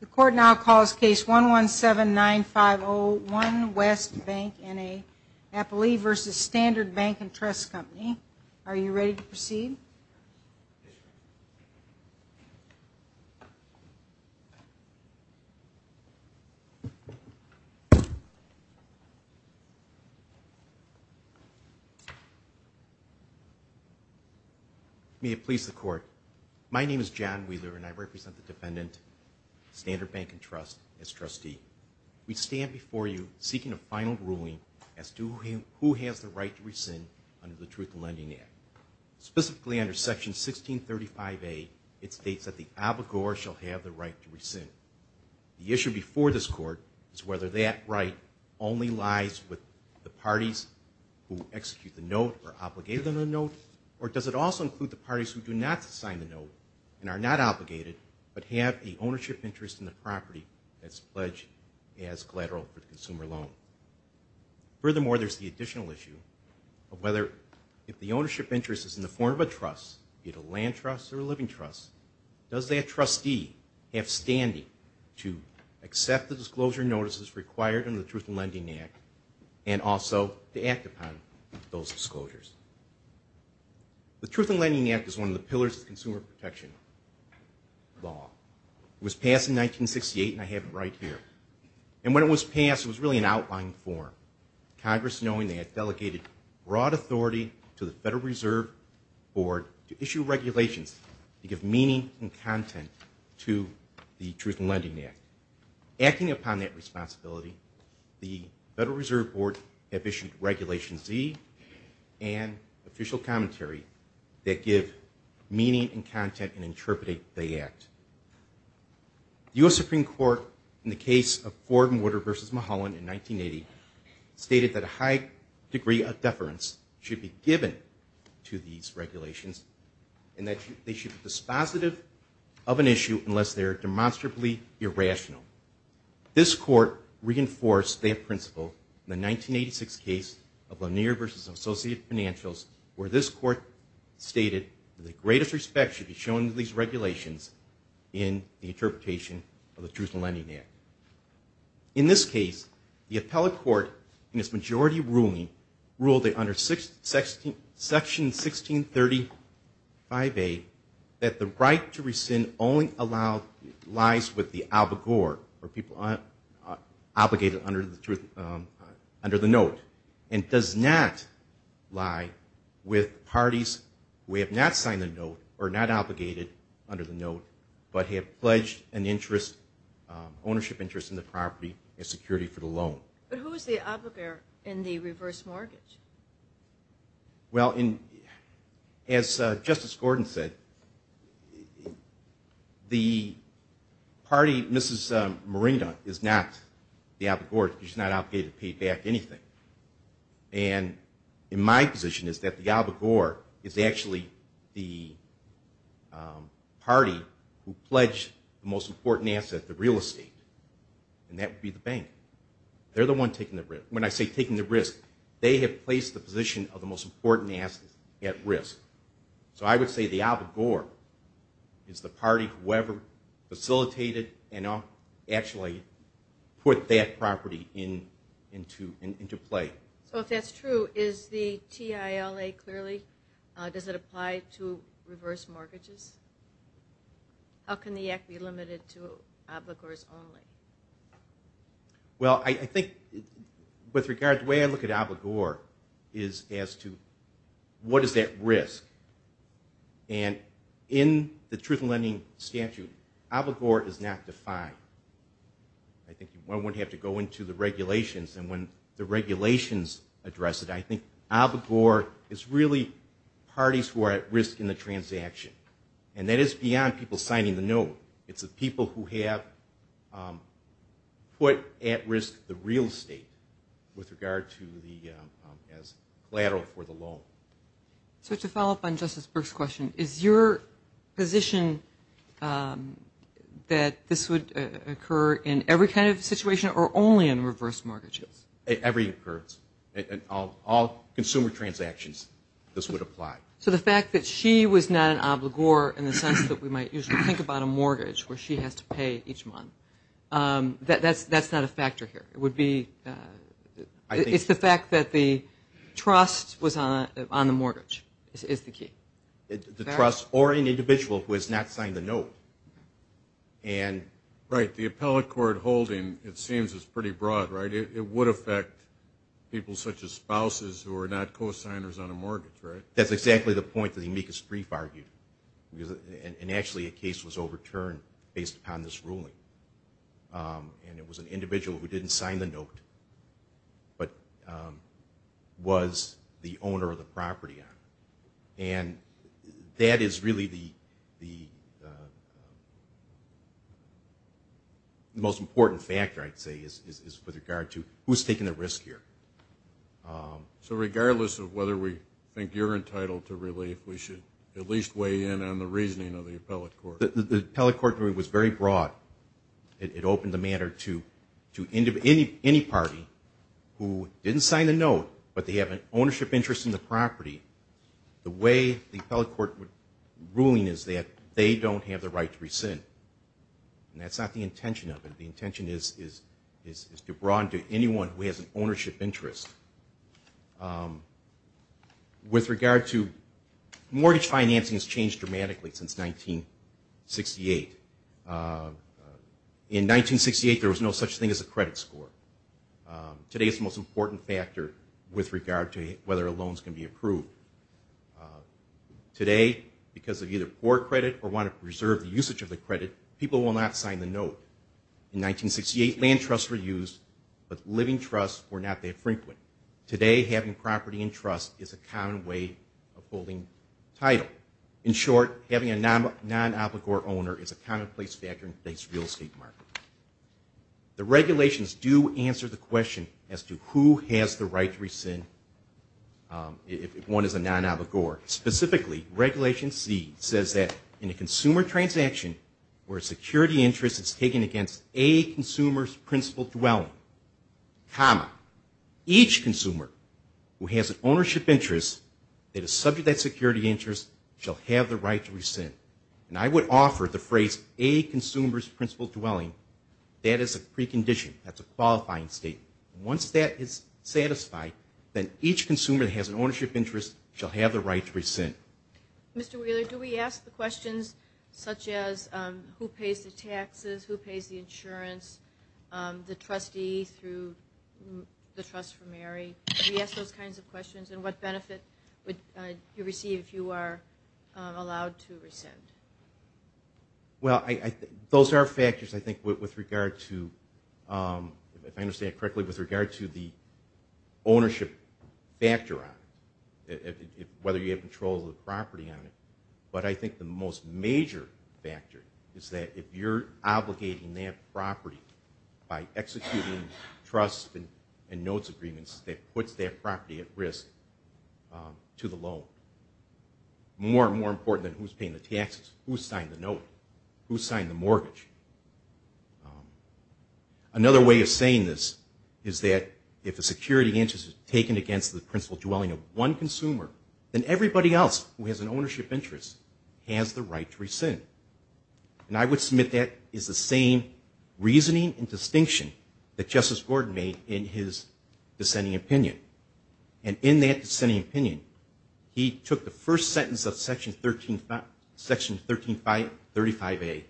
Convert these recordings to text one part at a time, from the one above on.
The Court now calls Case 117-9501 West Bank N.A. Appley v. Standard Bank and Trust Company. Are you ready to proceed? Yes, Your Honor. May it please the Court, my name is John Wheeler and I represent the defendant, Standard Bank and Trust, as trustee. We stand before you seeking a final ruling as to who has the right to rescind under the Truth in Lending Act. Specifically under Section 1635A, it states that the abogor shall have the right to rescind. The issue before this Court is whether that right only lies with the parties who execute the note or are obligated on the note, or does it also include the parties who do not sign the note and are not obligated, but have an ownership interest in the property that's pledged as collateral for the consumer loan. Furthermore, there's the additional issue of whether if the ownership interest is in the form of a trust, be it a land trust or a living trust, does that trustee have standing to accept the disclosure notices required under the Truth in Lending Act and also to act upon those disclosures. The Truth in Lending Act is one of the pillars of consumer protection law. It was passed in 1968 and I have it right here. And when it was passed, it was really an outline form. Congress, knowing they had delegated broad authority to the Federal Reserve Board to issue regulations to give meaning and content to the Truth in Lending Act. Acting upon that responsibility, the Federal Reserve Board have issued Regulation Z and official commentary that give meaning and content and interpretate the act. The U.S. Supreme Court in the case of Ford and Woodard v. Mulholland in 1980 stated that a high degree of deference should be given to these regulations and that they should be dispositive of an issue unless they are demonstrably irrational. This court reinforced that principle in the 1986 case of Lanier v. Associated Financials where this court stated that the greatest respect should be shown to these regulations in the interpretation of the Truth in Lending Act. In this case, the appellate court in its majority ruling ruled that under Section 1635A that the right to rescind only allows lies with the abogor or people obligated under the note and does not lie with parties who have not signed the note or not obligated under the note but have pledged an interest, ownership interest in the property and security for the loan. But who is the abogor in the reverse mortgage? Well, as Justice Gordon said, the party, Mrs. Marinda, is not the abogor. She's not obligated to pay back anything. And my position is that the abogor is actually the party who pledged the most important asset, the real estate, and that would be the bank. They're the one taking the risk. When I say taking the risk, they have placed the position of the most important asset at risk. So I would say the abogor is the party whoever facilitated and actually put that property into play. So if that's true, is the TILA clearly, does it apply to reverse mortgages? How can the act be limited to abogors only? Well, I think with regard to the way I look at abogor is as to what is at risk. And in the Truth in Lending statute, abogor is not defined. I think one would have to go into the regulations, and when the regulations address it, I think abogor is really parties who are at risk in the transaction. And that is beyond people signing the note. It's the people who have put at risk the real estate with regard to the collateral for the loan. So to follow up on Justice Brooks' question, is your position that this would occur in every kind of situation or only in reverse mortgages? Every occurrence. All consumer transactions, this would apply. So the fact that she was not an abogor in the sense that we might usually think about a mortgage where she has to pay each month, that's not a factor here. It's the fact that the trust was on the mortgage is the key. The trust or an individual who has not signed the note. Right. The appellate court holding, it seems, is pretty broad, right? It would affect people such as spouses who are not co-signers on a mortgage, right? That's exactly the point that the amicus brief argued, and actually a case was overturned based upon this ruling. And it was an individual who didn't sign the note but was the owner of the property on it. And that is really the most important factor, I'd say, is with regard to who's taking the risk here. So regardless of whether we think you're entitled to relief, we should at least weigh in on the reasoning of the appellate court. The appellate court ruling was very broad. It opened the matter to any party who didn't sign the note but they have an ownership interest in the property. The way the appellate court ruling is that they don't have the right to rescind. And that's not the intention of it. The intention is to broaden to anyone who has an ownership interest. With regard to mortgage financing has changed dramatically since 1968. In 1968, there was no such thing as a credit score. Today, it's the most important factor with regard to whether a loan is going to be approved. Today, because of either poor credit or want to preserve the usage of the credit, people will not sign the note. In 1968, land trusts were used, but living trusts were not that frequent. Today, having property in trust is a common way of holding title. In short, having a non-obligor owner is a commonplace factor in today's real estate market. The regulations do answer the question as to who has the right to rescind if one is a non-obligor. Specifically, Regulation C says that in a consumer transaction where a security interest is taken against a consumer's principal dwelling, comma, each consumer who has an ownership interest that is subject to that security interest shall have the right to rescind. And I would offer the phrase a consumer's principal dwelling. That is a precondition. That's a qualifying statement. Once that is satisfied, then each consumer that has an ownership interest shall have the right to rescind. Mr. Wheeler, do we ask the questions such as who pays the taxes, who pays the insurance, the trustee through the Trust for Mary? Do we ask those kinds of questions? And what benefit would you receive if you are allowed to rescind? Well, those are factors, I think, with regard to, if I understand it correctly, with regard to the ownership factor on it, whether you have control of the property on it. But I think the most major factor is that if you're obligating that property by executing trust and notes agreements, that puts that property at risk to the loan. More and more important than who's paying the taxes, who's signing the note, who's signing the mortgage. Another way of saying this is that if a security interest is taken against the principal dwelling of one consumer, then everybody else who has an ownership interest has the right to rescind. And I would submit that is the same reasoning and distinction that Justice Gordon made in his dissenting opinion. And in that dissenting opinion, he took the first sentence of Section 1335A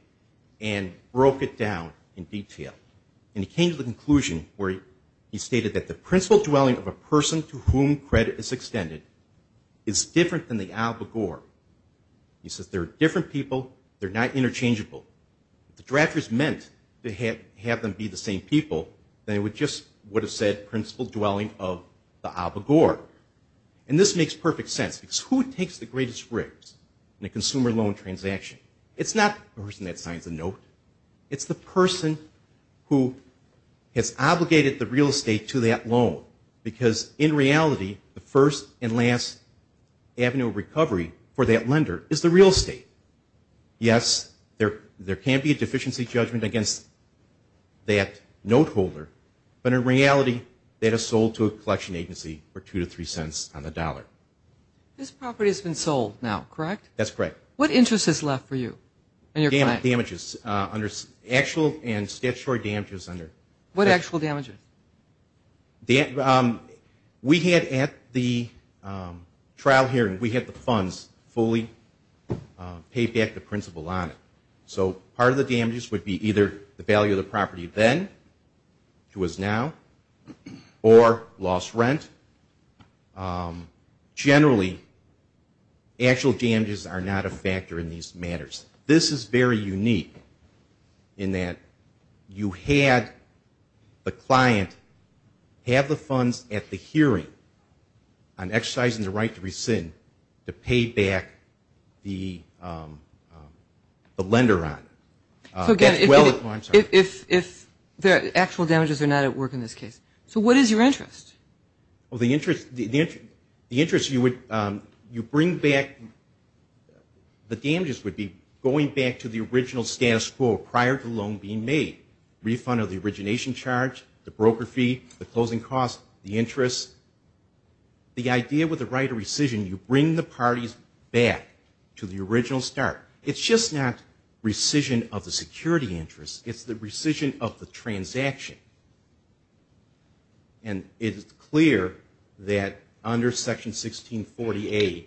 and broke it down in detail. And he came to the conclusion where he stated that the principal dwelling of a person to whom credit is extended is different than the obligor. He says there are different people, they're not interchangeable. If the drafters meant to have them be the same people, then it would just would have said principal dwelling of the obligor. And this makes perfect sense because who takes the greatest risk in a consumer loan transaction? It's not the person that signs the note. It's the person who has obligated the real estate to that loan because in reality the first and last avenue of recovery for that lender is the real estate. Yes, there can be a deficiency judgment against that note holder, but in reality that is sold to a collection agency for two to three cents on the dollar. This property has been sold now, correct? That's correct. What interest is left for you? Damages, actual and statutory damages. What actual damages? We had at the trial hearing, we had the funds fully pay back the principal on it. So part of the damages would be either the value of the property then to us now or lost rent. Generally, actual damages are not a factor in these matters. This is very unique in that you had the client have the funds at the hearing on exercising the right to rescind to pay back the lender on it. If the actual damages are not at work in this case. So what is your interest? The interest you bring back, the damages would be going back to the original status quo prior to the loan being made. Refund of the origination charge, the broker fee, the closing cost, the interest. The idea with the right of rescission, you bring the parties back to the original start. It's just not rescission of the security interest. It's the rescission of the transaction. And it is clear that under Section 1640A,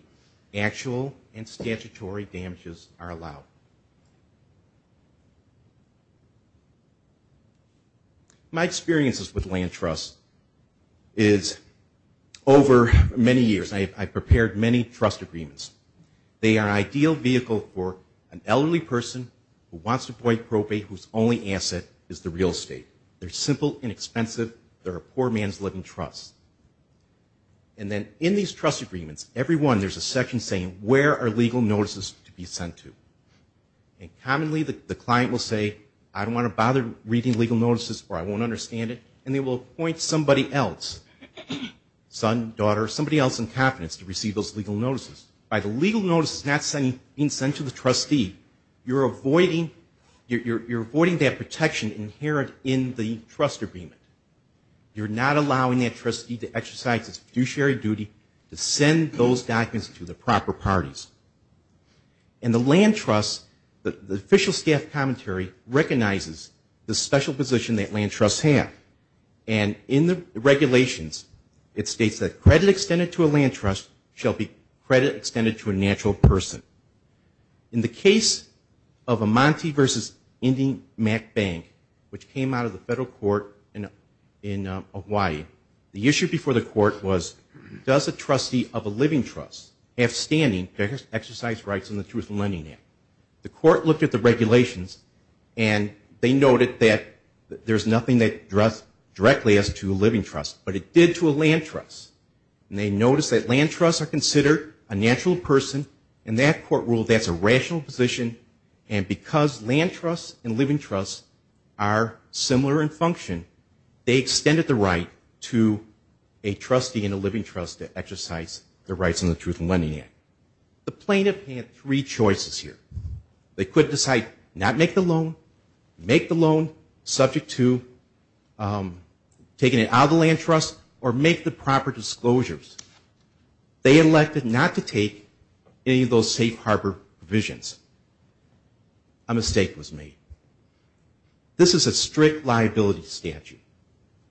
actual and statutory damages are allowed. My experiences with land trusts is over many years, I've prepared many trust agreements. They are an ideal vehicle for an elderly person who wants to buy property whose only asset is the real estate. They're simple, inexpensive. They're a poor man's living trust. And then in these trust agreements, every one there's a section saying where are legal notices to be sent to. And commonly the client will say, I don't want to bother reading legal notices or I won't understand it. And they will appoint somebody else, son, daughter, somebody else in confidence to receive those legal notices. By the legal notices not being sent to the trustee, you're avoiding that protection inherent in the trust agreement. You're not allowing that trustee to exercise his fiduciary duty to send those documents to the proper parties. And the land trust, the official staff commentary recognizes the special position that land trusts have. And in the regulations, it states that credit extended to a land trust shall be credit extended to a natural person. In the case of Amanti versus Indian Mac Bank, which came out of the federal court in Hawaii, the issue before the court was, does a trustee of a living trust have standing to exercise rights in the Truth in Lending Act? The court looked at the regulations and they noted that there's nothing that addressed directly as to a living trust, but it did to a land trust. And they noticed that land trusts are considered a natural person. In that court rule, that's a rational position. And because land trusts and living trusts are similar in function, they extended the right to a trustee in a living trust to exercise the rights in the Truth in Lending Act. The plaintiff had three choices here. They could decide not to make the loan, make the loan subject to taking it out of the land trust, or make the proper disclosures. They elected not to take any of those safe harbor provisions. A mistake was made. This is a strict liability statute.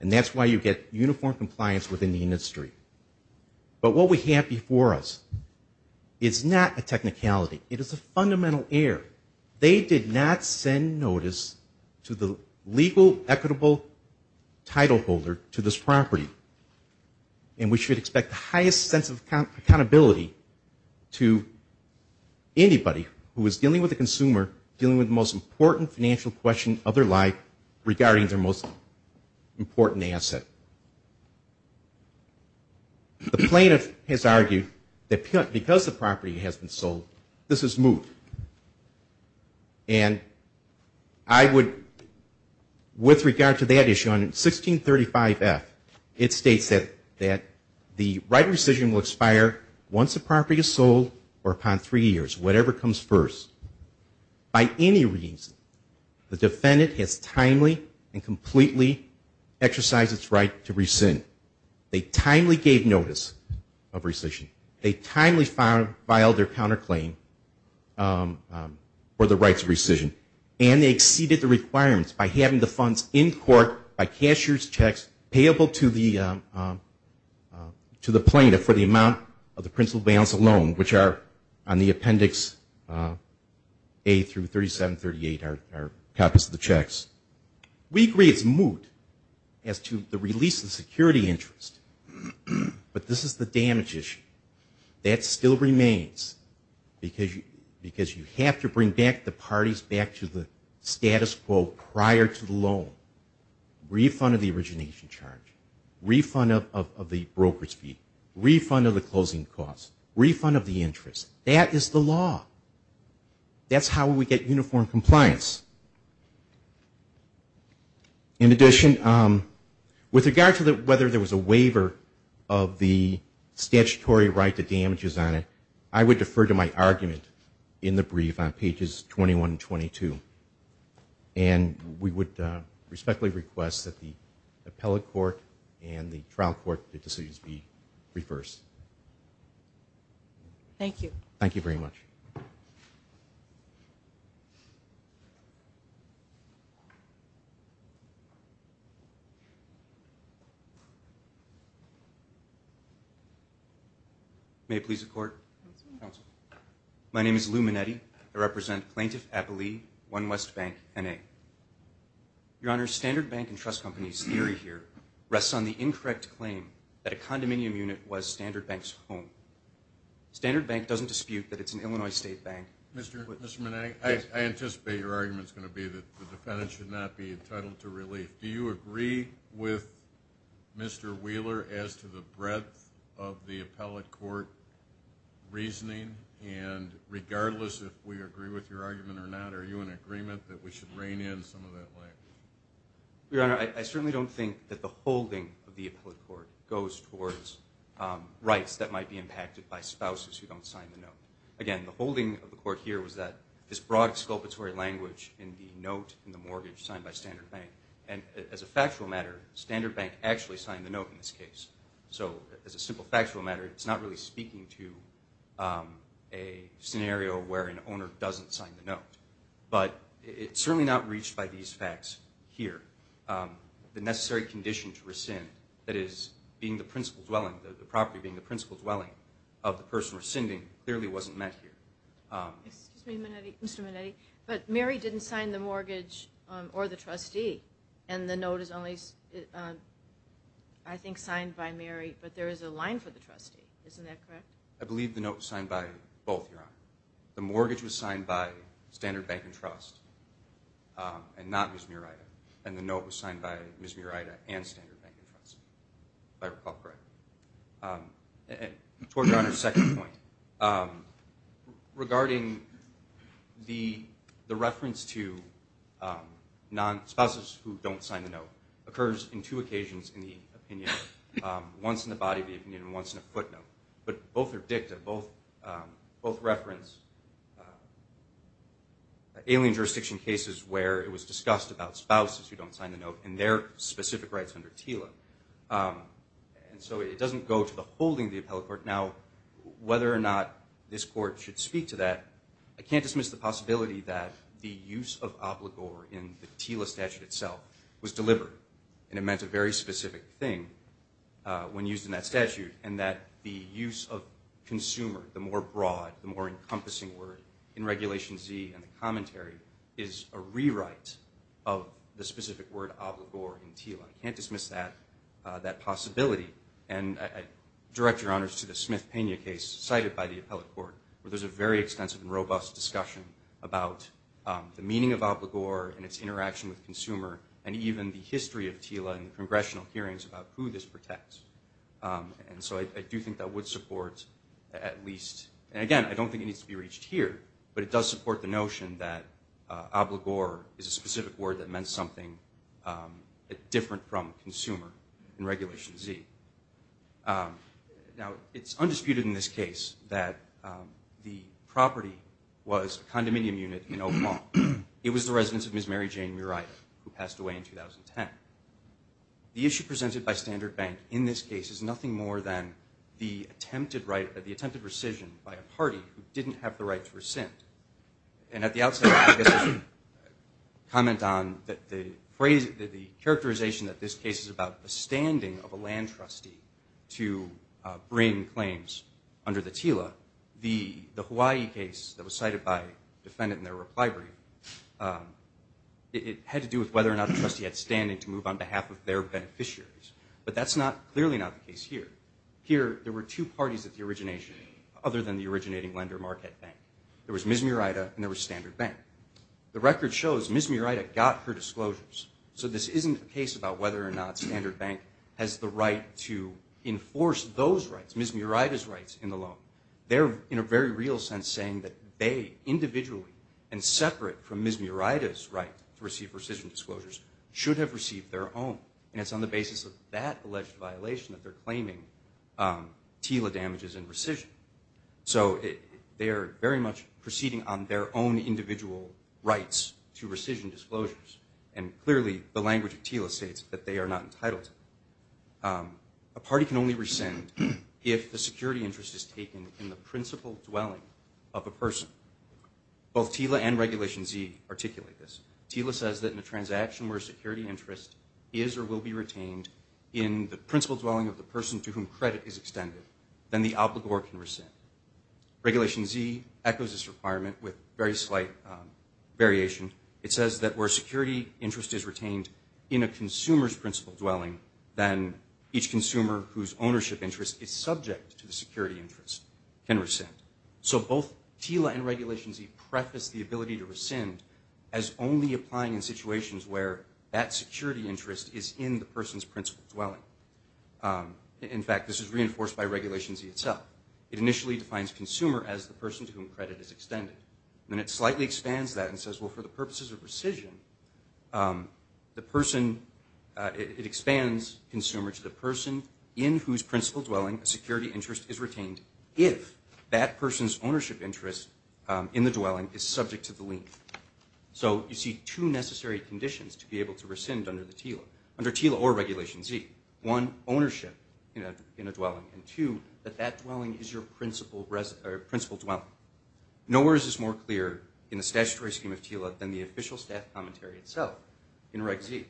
And that's why you get uniform compliance within the industry. But what we have before us is not a technicality. It is a fundamental error. They did not send notice to the legal equitable title holder to this property. And we should expect the highest sense of accountability to anybody who is dealing with a consumer dealing with the most important financial question of their life regarding their most important asset. The plaintiff has argued that because the property has been sold, this is moot. And I would, with regard to that issue, on 1635F, it states that the right to rescission will expire once the property is sold or upon three years, whatever comes first. By any reason, the defendant has timely and completely exercised its right to rescind. They timely gave notice of rescission. They timely filed their counterclaim for the rights of rescission. And they exceeded the requirements by having the funds in court by cashier's checks payable to the plaintiff for the amount of the principal balance of loan, which are on the Appendix A through 3738 are copies of the checks. We agree it's moot. We agree it's moot. We agree it's moot. We agree it's moot. We agree it's moot. As to the release of security interest, but this is the damage issue. That still remains because you have to bring back the parties back to the status quo prior to the loan. Refund of the origination charge. Refund of the brokerage fee. Refund of the closing costs. Refund of the interest. That is the law. That's how we get uniform compliance. In addition, the plaintiff has argued that the right to damages is not a statutory right. And with regard to whether there was a waiver of the statutory right to damages on it, I would defer to my argument in the brief on pages 21 and 22. And we would respectfully request that the appellate court and the trial court decisions be reversed. Thank you. Thank you very much. May it please the court. My name is Lou Manetti. I represent Plaintiff Appellee, One West Bank, N.A. Your Honor, Standard Bank and Trust Company's theory here rests on the incorrect claim that a condominium unit was Standard Bank's home. Standard Bank doesn't dispute that it's an Illinois state bank. Mr. Manetti, I anticipate your argument is going to be that the defendant should not be in a condominium. Do you agree with Mr. Wheeler as to the breadth of the appellate court reasoning? And regardless if we agree with your argument or not, are you in agreement that we should rein in some of that language? Your Honor, I certainly don't think that the holding of the appellate court goes towards rights that might be impacted by spouses who don't sign the note. Again, the holding of the court here was that this broad exculpatory language in the note and the mortgage signed by Standard Bank. And as a factual matter, Standard Bank actually signed the note in this case. So as a simple factual matter, it's not really speaking to a scenario where an owner doesn't sign the note. But it's certainly not reached by these facts here. The necessary condition to rescind, that is, being the principal dwelling, the property being the principal dwelling of the person rescinding, clearly wasn't met here. Excuse me, Mr. Manetti, but Mary didn't sign the mortgage or the trustee, and the note is on the property. It's only, I think, signed by Mary, but there is a line for the trustee. Isn't that correct? I believe the note was signed by both, Your Honor. The mortgage was signed by Standard Bank and Trust and not Ms. Murida, and the note was signed by Ms. Murida and Standard Bank and Trust, if I recall correctly. Toward Your Honor's second point, regarding the reference to spouses who don't sign the note, occurs in two occasions in the opinion. Once in the body of the opinion and once in a footnote. But both are dicta. Both reference alien jurisdiction cases where it was discussed about spouses who don't sign the note and their specific rights under TILA. And so it doesn't go to the holding of the appellate court. Now, whether or not this court should speak to that, I don't know. But I do know that it was deliberate, and it meant a very specific thing when used in that statute, and that the use of consumer, the more broad, the more encompassing word in Regulation Z and the commentary is a rewrite of the specific word obligor in TILA. I can't dismiss that possibility. And I direct Your Honors to the Smith-Pena case cited by the appellate court, where there's a very extensive and robust discussion about the meaning of obligor and its interaction with consumer, and even the history of TILA and congressional hearings about who this protects. And so I do think that would support at least, and again, I don't think it needs to be reached here, but it does support the notion that obligor is a specific word that meant something different from consumer in Regulation Z. Now, it's undisputed in this case that the property was a condominium unit in Murata, who passed away in 2010. The issue presented by Standard Bank in this case is nothing more than the attempted rescission by a party who didn't have the right to rescind. And at the outset, I guess I should comment on the characterization that this case is about the standing of a land trustee to bring claims under the TILA. The Hawaii case that was cited by the defendant in their reply brief, it had to do with whether or not the trustee had standing to move on behalf of their beneficiaries. But that's clearly not the case here. Here, there were two parties at the origination, other than the originating lender, Marquette Bank. There was Ms. Murata, and there was Standard Bank. The record shows Ms. Murata got her disclosures. So this isn't a case about whether or not Standard Bank has the right to enforce those rights, Ms. Murata's rights, in the loan. They're, in a very real sense, saying that they, individually and separate from Ms. Murata's right to receive rescission disclosures, should have received their own. And it's on the basis of that alleged violation that they're claiming TILA damages and rescission. So they are very much proceeding on their own individual rights to rescission disclosures. And clearly, the language of TILA states that they are not entitled to. A party can only rescind if the security interest is taken in the principal dwelling of a person. Both TILA and Regulation Z articulate this. TILA says that in a transaction where security interest is or will be retained in the principal dwelling of the person to whom credit is extended, then the obligor can rescind. Regulation Z echoes this requirement with very slight variation. It says that where security interest is retained in a consumer's principal dwelling, then each consumer whose ownership interest is retained in the principal dwelling of the person to whom credit is extended can rescind. So both TILA and Regulation Z preface the ability to rescind as only applying in situations where that security interest is in the person's principal dwelling. In fact, this is reinforced by Regulation Z itself. It initially defines consumer as the person to whom credit is extended. Then it slightly expands that and says, well, for the purposes of rescission, the person, it expands consumer to the person in whose principal dwelling a security interest is retained if that person's ownership interest in the dwelling is subject to the lien. So you see two necessary conditions to be able to rescind under the TILA, under TILA or Regulation Z. One, ownership in a dwelling, and two, that that dwelling is your principal dwelling. Nowhere is this more clear in the statutory scheme of TILA than the official staff commentary itself in Reg Z.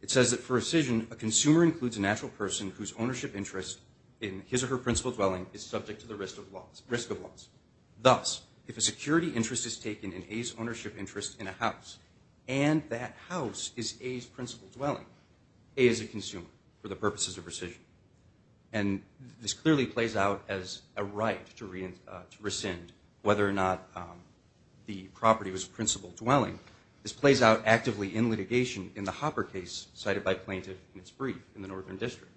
It says that for rescission, a consumer includes a natural person whose ownership interest in his or her principal dwelling is subject to the risk of loss. Thus, if a security interest is taken in A's ownership interest in a house and that house is A's principal dwelling, A is a consumer for the purposes of rescission. And this clearly plays out as a right to rescind whether or not the property was principal dwelling. This plays out actively in litigation in the Hopper case cited by plaintiff in its brief in the Northern District.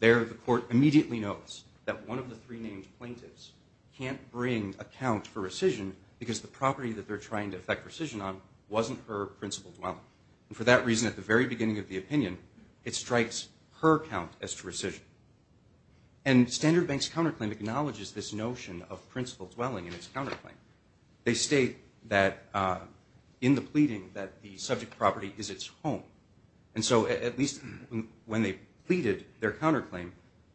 There, the court immediately notes that one of the three named plaintiffs can't bring a count for rescission because the property that they're trying to effect rescission on wasn't her principal dwelling. And for that reason, at the very beginning of the opinion, it strikes her count as to rescission. And Standard Bank's counterclaim acknowledges this notion of principal dwelling in its counterclaim. They state that in the case, at least when they pleaded their counterclaim,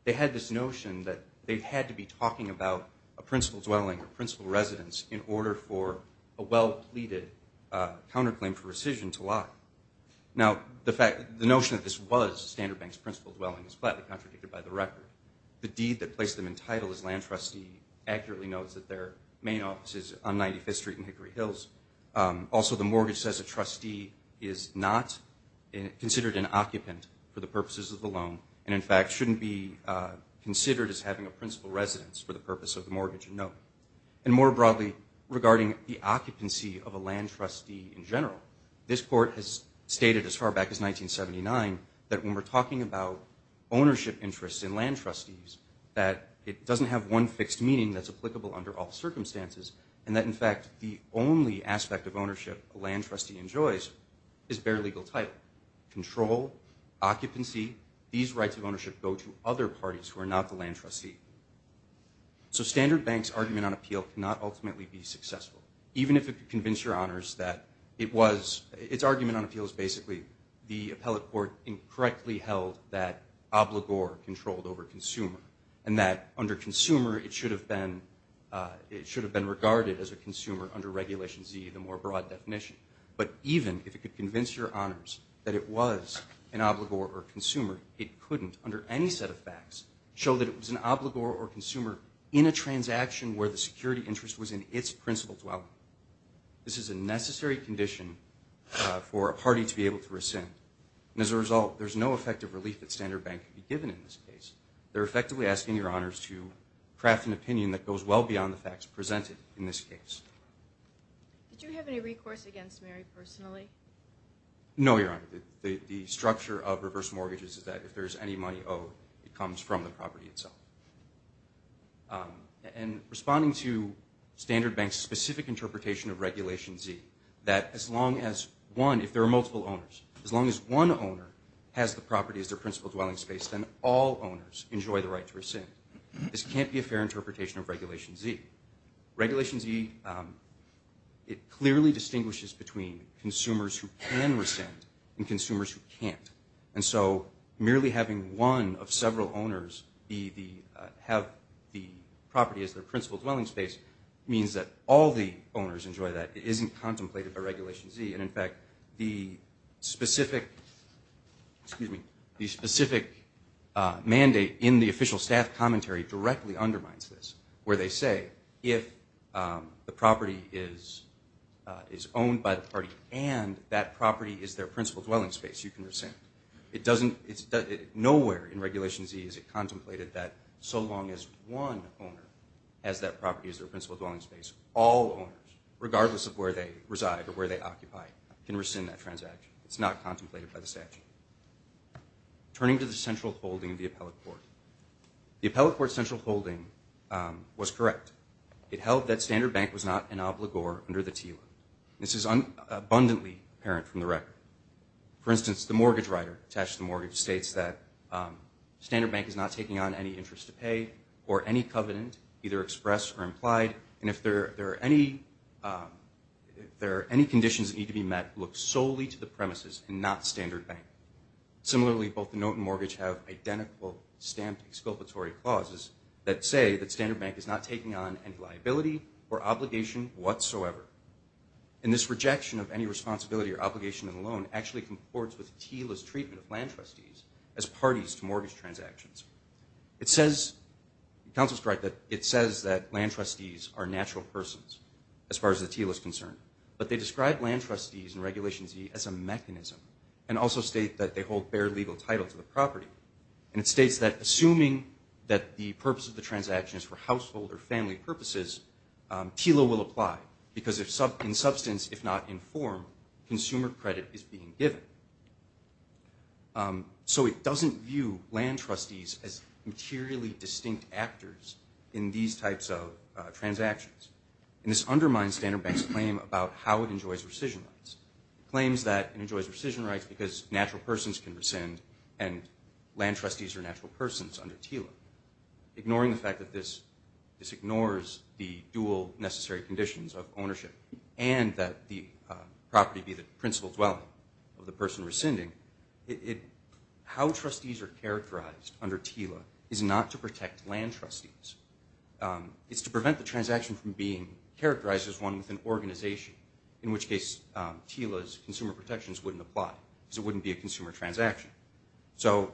they had this notion that they had to be talking about a principal dwelling or principal residence in order for a well-pleaded counterclaim for rescission to lie. Now, the notion that this was Standard Bank's principal dwelling is flatly contradicted by the record. The deed that placed them in title as land trustee accurately notes that their main office is on 95th Street in Hickory Hills. Also, the mortgage says a trustee is not considered an occupant for the purposes of the loan and, in fact, shouldn't be considered as having a principal residence for the purpose of the mortgage, no. And more broadly, regarding the occupancy of a land trustee in general, this court has stated as far back as 1979 that when we're talking about ownership interests in land trustees, that it doesn't have one fixed meaning that's applicable under all circumstances and that, in fact, the only aspect of ownership a fair legal title, control, occupancy, these rights of ownership go to other parties who are not the land trustee. So Standard Bank's argument on appeal cannot ultimately be successful, even if it could convince your honors that it was, its argument on appeal is basically the appellate court incorrectly held that obligor controlled over consumer and that under consumer, it should have been regarded as a consumer under Regulation Z, the more broad definition. But even if it could convince your honors that it was an obligor or consumer, it couldn't, under any set of facts, show that it was an obligor or consumer in a transaction where the security interest was in its principal dwelling. This is a necessary condition for a party to be able to rescind. And as a result, there's no effective relief that Standard Bank could be given in this case. They're effectively asking your honors to craft an opinion that goes well beyond the facts presented in this case. Did you have any recourse against Mary personally? No, your honor. The structure of reverse mortgages is that if there's any money owed, it comes from the property itself. And responding to Standard Bank's specific interpretation of Regulation Z, that as long as one, if there are multiple owners, as long as one owner has the property as their principal dwelling space, then all owners enjoy the right to rescind. This can't be a fair interpretation of Regulation Z. Regulation Z, it clearly distinguishes between consumers who can rescind and consumers who can't. And so merely having one of several owners have the property as their principal dwelling space means that all the owners enjoy that. It isn't contemplated by Regulation Z. And in fact, the specific mandate in the official staff commentary directly undermines this, where they say if the property is owned by the party and that property is their principal dwelling space, you can rescind. Nowhere in Regulation Z is it contemplated that so long as one owner has that property as their principal dwelling space, all owners, regardless of where they reside or where they occupy, can rescind that transaction. It's not contemplated by the statute. Turning to the central holding of the appellate court. The appellate court central holding was correct. It held that Standard Bank was not an obligor under the TILA. This is abundantly apparent from the record. For instance, the mortgage writer attached to the mortgage states that Standard Bank is not taking on any interest to pay or any covenant, either expressed or implied, and if there are any conditions that need to be met, look solely to the premises and not Standard Bank. Similarly, both the note and mortgage have identical stamped exculpatory clause. That say that Standard Bank is not taking on any liability or obligation whatsoever. And this rejection of any responsibility or obligation alone actually comports with TILA's treatment of land trustees as parties to mortgage transactions. It says, counsel's correct, that it says that land trustees are natural persons, as far as the TILA's concerned. But they describe land trustees in Regulation Z as a mechanism and also state that they hold bare legal title to the transaction and that the purpose of the transaction is for household or family purposes. TILA will apply because in substance, if not in form, consumer credit is being given. So it doesn't view land trustees as materially distinct actors in these types of transactions. And this undermines Standard Bank's claim about how it enjoys rescission rights. It claims that it enjoys rescission rights because natural persons can rescind and land trustees are natural persons under TILA. Ignoring the fact that this ignores the dual necessary conditions of ownership and that the property be the principal dwelling of the person rescinding, how trustees are characterized under TILA is not to protect land trustees. It's to prevent the transaction from being characterized as one with an organization, in which case TILA's consumer protections wouldn't apply because it wouldn't be a consumer transaction. So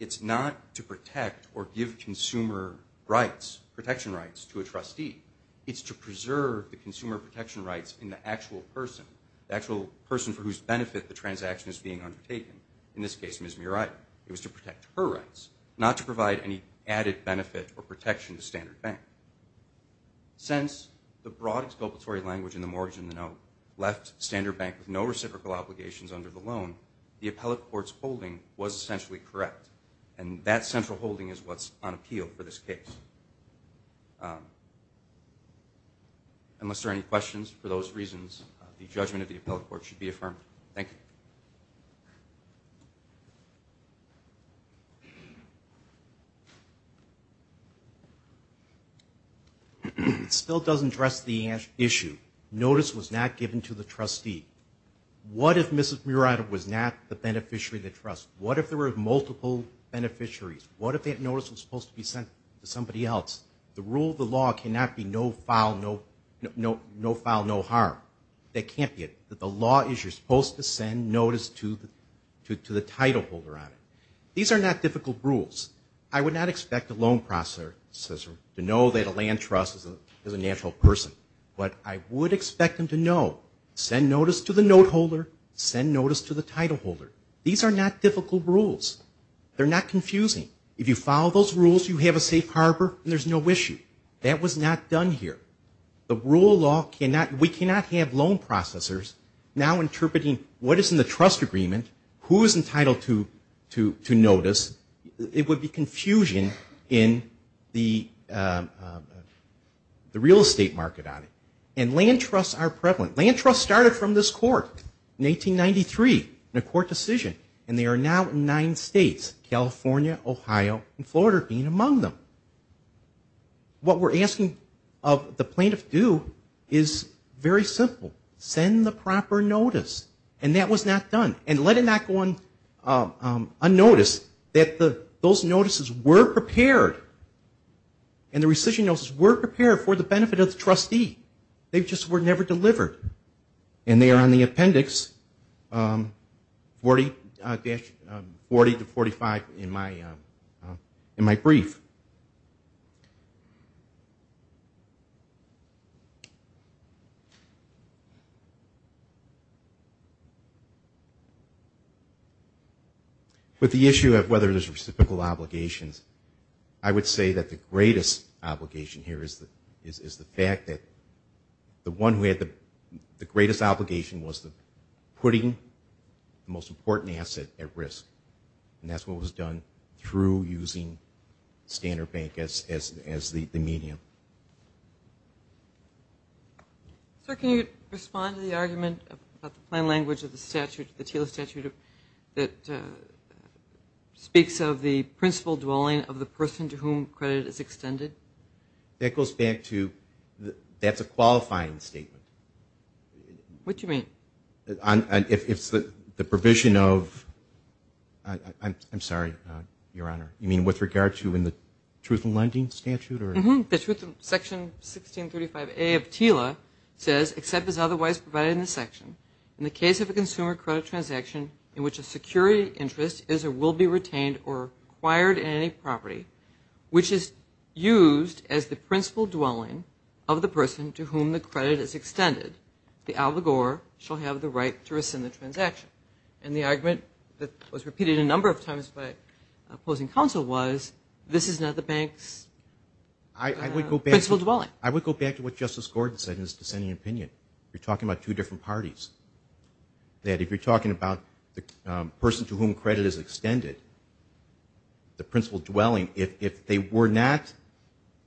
it's not to protect or give consumer rights, protection rights, to a trustee. It's to preserve the consumer protection rights in the actual person, the actual person for whose benefit the transaction is being undertaken. In this case, Ms. Murata. It was to protect her rights, not to provide any added benefit or protection to Standard Bank. Since the broad exculpatory language in the mortgage and the note left Standard Bank with no reciprocal obligations under the loan, the appellate court's holding was essentially correct. And that central holding is what's on appeal for this case. Unless there are any questions, for those reasons, the judgment of the appellate court should be affirmed. Thank you. It still doesn't address the issue. Notice was not given to the trustee. What if Ms. Murata was not the beneficiary of the trust? What if there were multiple beneficiaries? What if that notice was supposed to be sent to somebody else? The rule of the law cannot be no foul, no harm. That can't be it. The law is you're supposed to send notice to the title holder on it. These are not difficult rules. I would not expect a loan processor to know that a land trust is a natural person. But I would expect them to know, send notice to the note holder, send notice to the title holder. These are not difficult rules. They're not confusing. If you follow those rules, you have a safe harbor and there's no issue. That was not done here. The rule of law, we cannot have loan processors now interpreting what is in the trust agreement, who is entitled to notice. It would be confusion in the real estate market on it. And land trusts are now in the first court in 1893 in a court decision. And they are now in nine states, California, Ohio and Florida being among them. What we're asking of the plaintiff to do is very simple. Send the proper notice. And that was not done. And let it not go unnoticed that those notices were prepared. And the rescission notices were prepared for the benefit of the plaintiff. And the appendix 40-45 in my brief. With the issue of whether there's reciprocal obligations, I would say that the greatest obligation here is the fact that the one who had the greatest obligation was the putting the most important asset at risk. And that's what was done through using standard bank as the medium. Sir, can you respond to the argument about the plain language of the statute, the TILA statute that speaks of the principal dwelling of the person to whom credit is extended? That goes back to that's a qualifying statement. What do you mean? I'm sorry, Your Honor. You mean with regard to in the Truth in Lending statute? Mm-hmm. Section 1635A of TILA says, except as otherwise provided in the section, in the case of a consumer credit transaction in which a security interest is or will be retained or acquired in any property, which is used to as the principal dwelling of the person to whom the credit is extended, the allegor shall have the right to rescind the transaction. And the argument that was repeated a number of times by opposing counsel was, this is not the bank's principal dwelling. I would go back to what Justice Gordon said in his dissenting opinion. You're talking about two different parties. That if you're talking about the person to whom credit is extended, the principal dwelling, if they were not,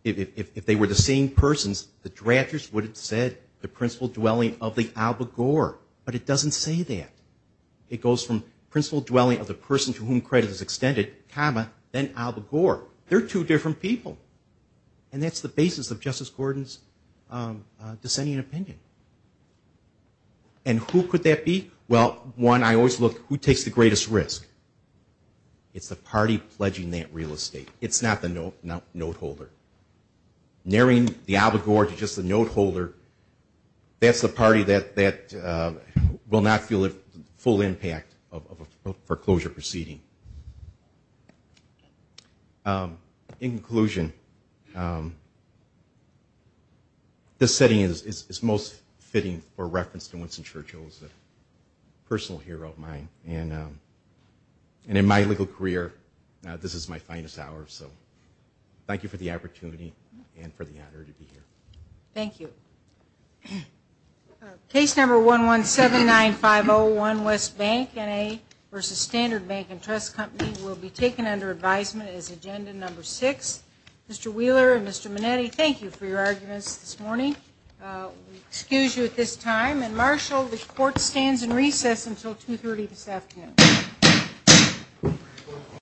if they were the same persons, the drafters would have said the principal dwelling of the allegor. But it doesn't say that. It goes from principal dwelling of the person to whom credit is extended, comma, then allegor. They're two different people. And that's the basis of Justice Gordon's dissenting opinion. And who could that be? Well, one, I always look, who takes the greatest risk? It's the party pledging that real estate. It's not the note holder. Narrowing the allegor to just the note holder, that's the party that will not feel the full impact of a foreclosure proceeding. In conclusion, this setting is most fitting for reference to Winston Churchill as a personal hero of mine. And in my legal career, this is my finest hour. So thank you for the opportunity and for the honor to be here. Thank you. Thank you.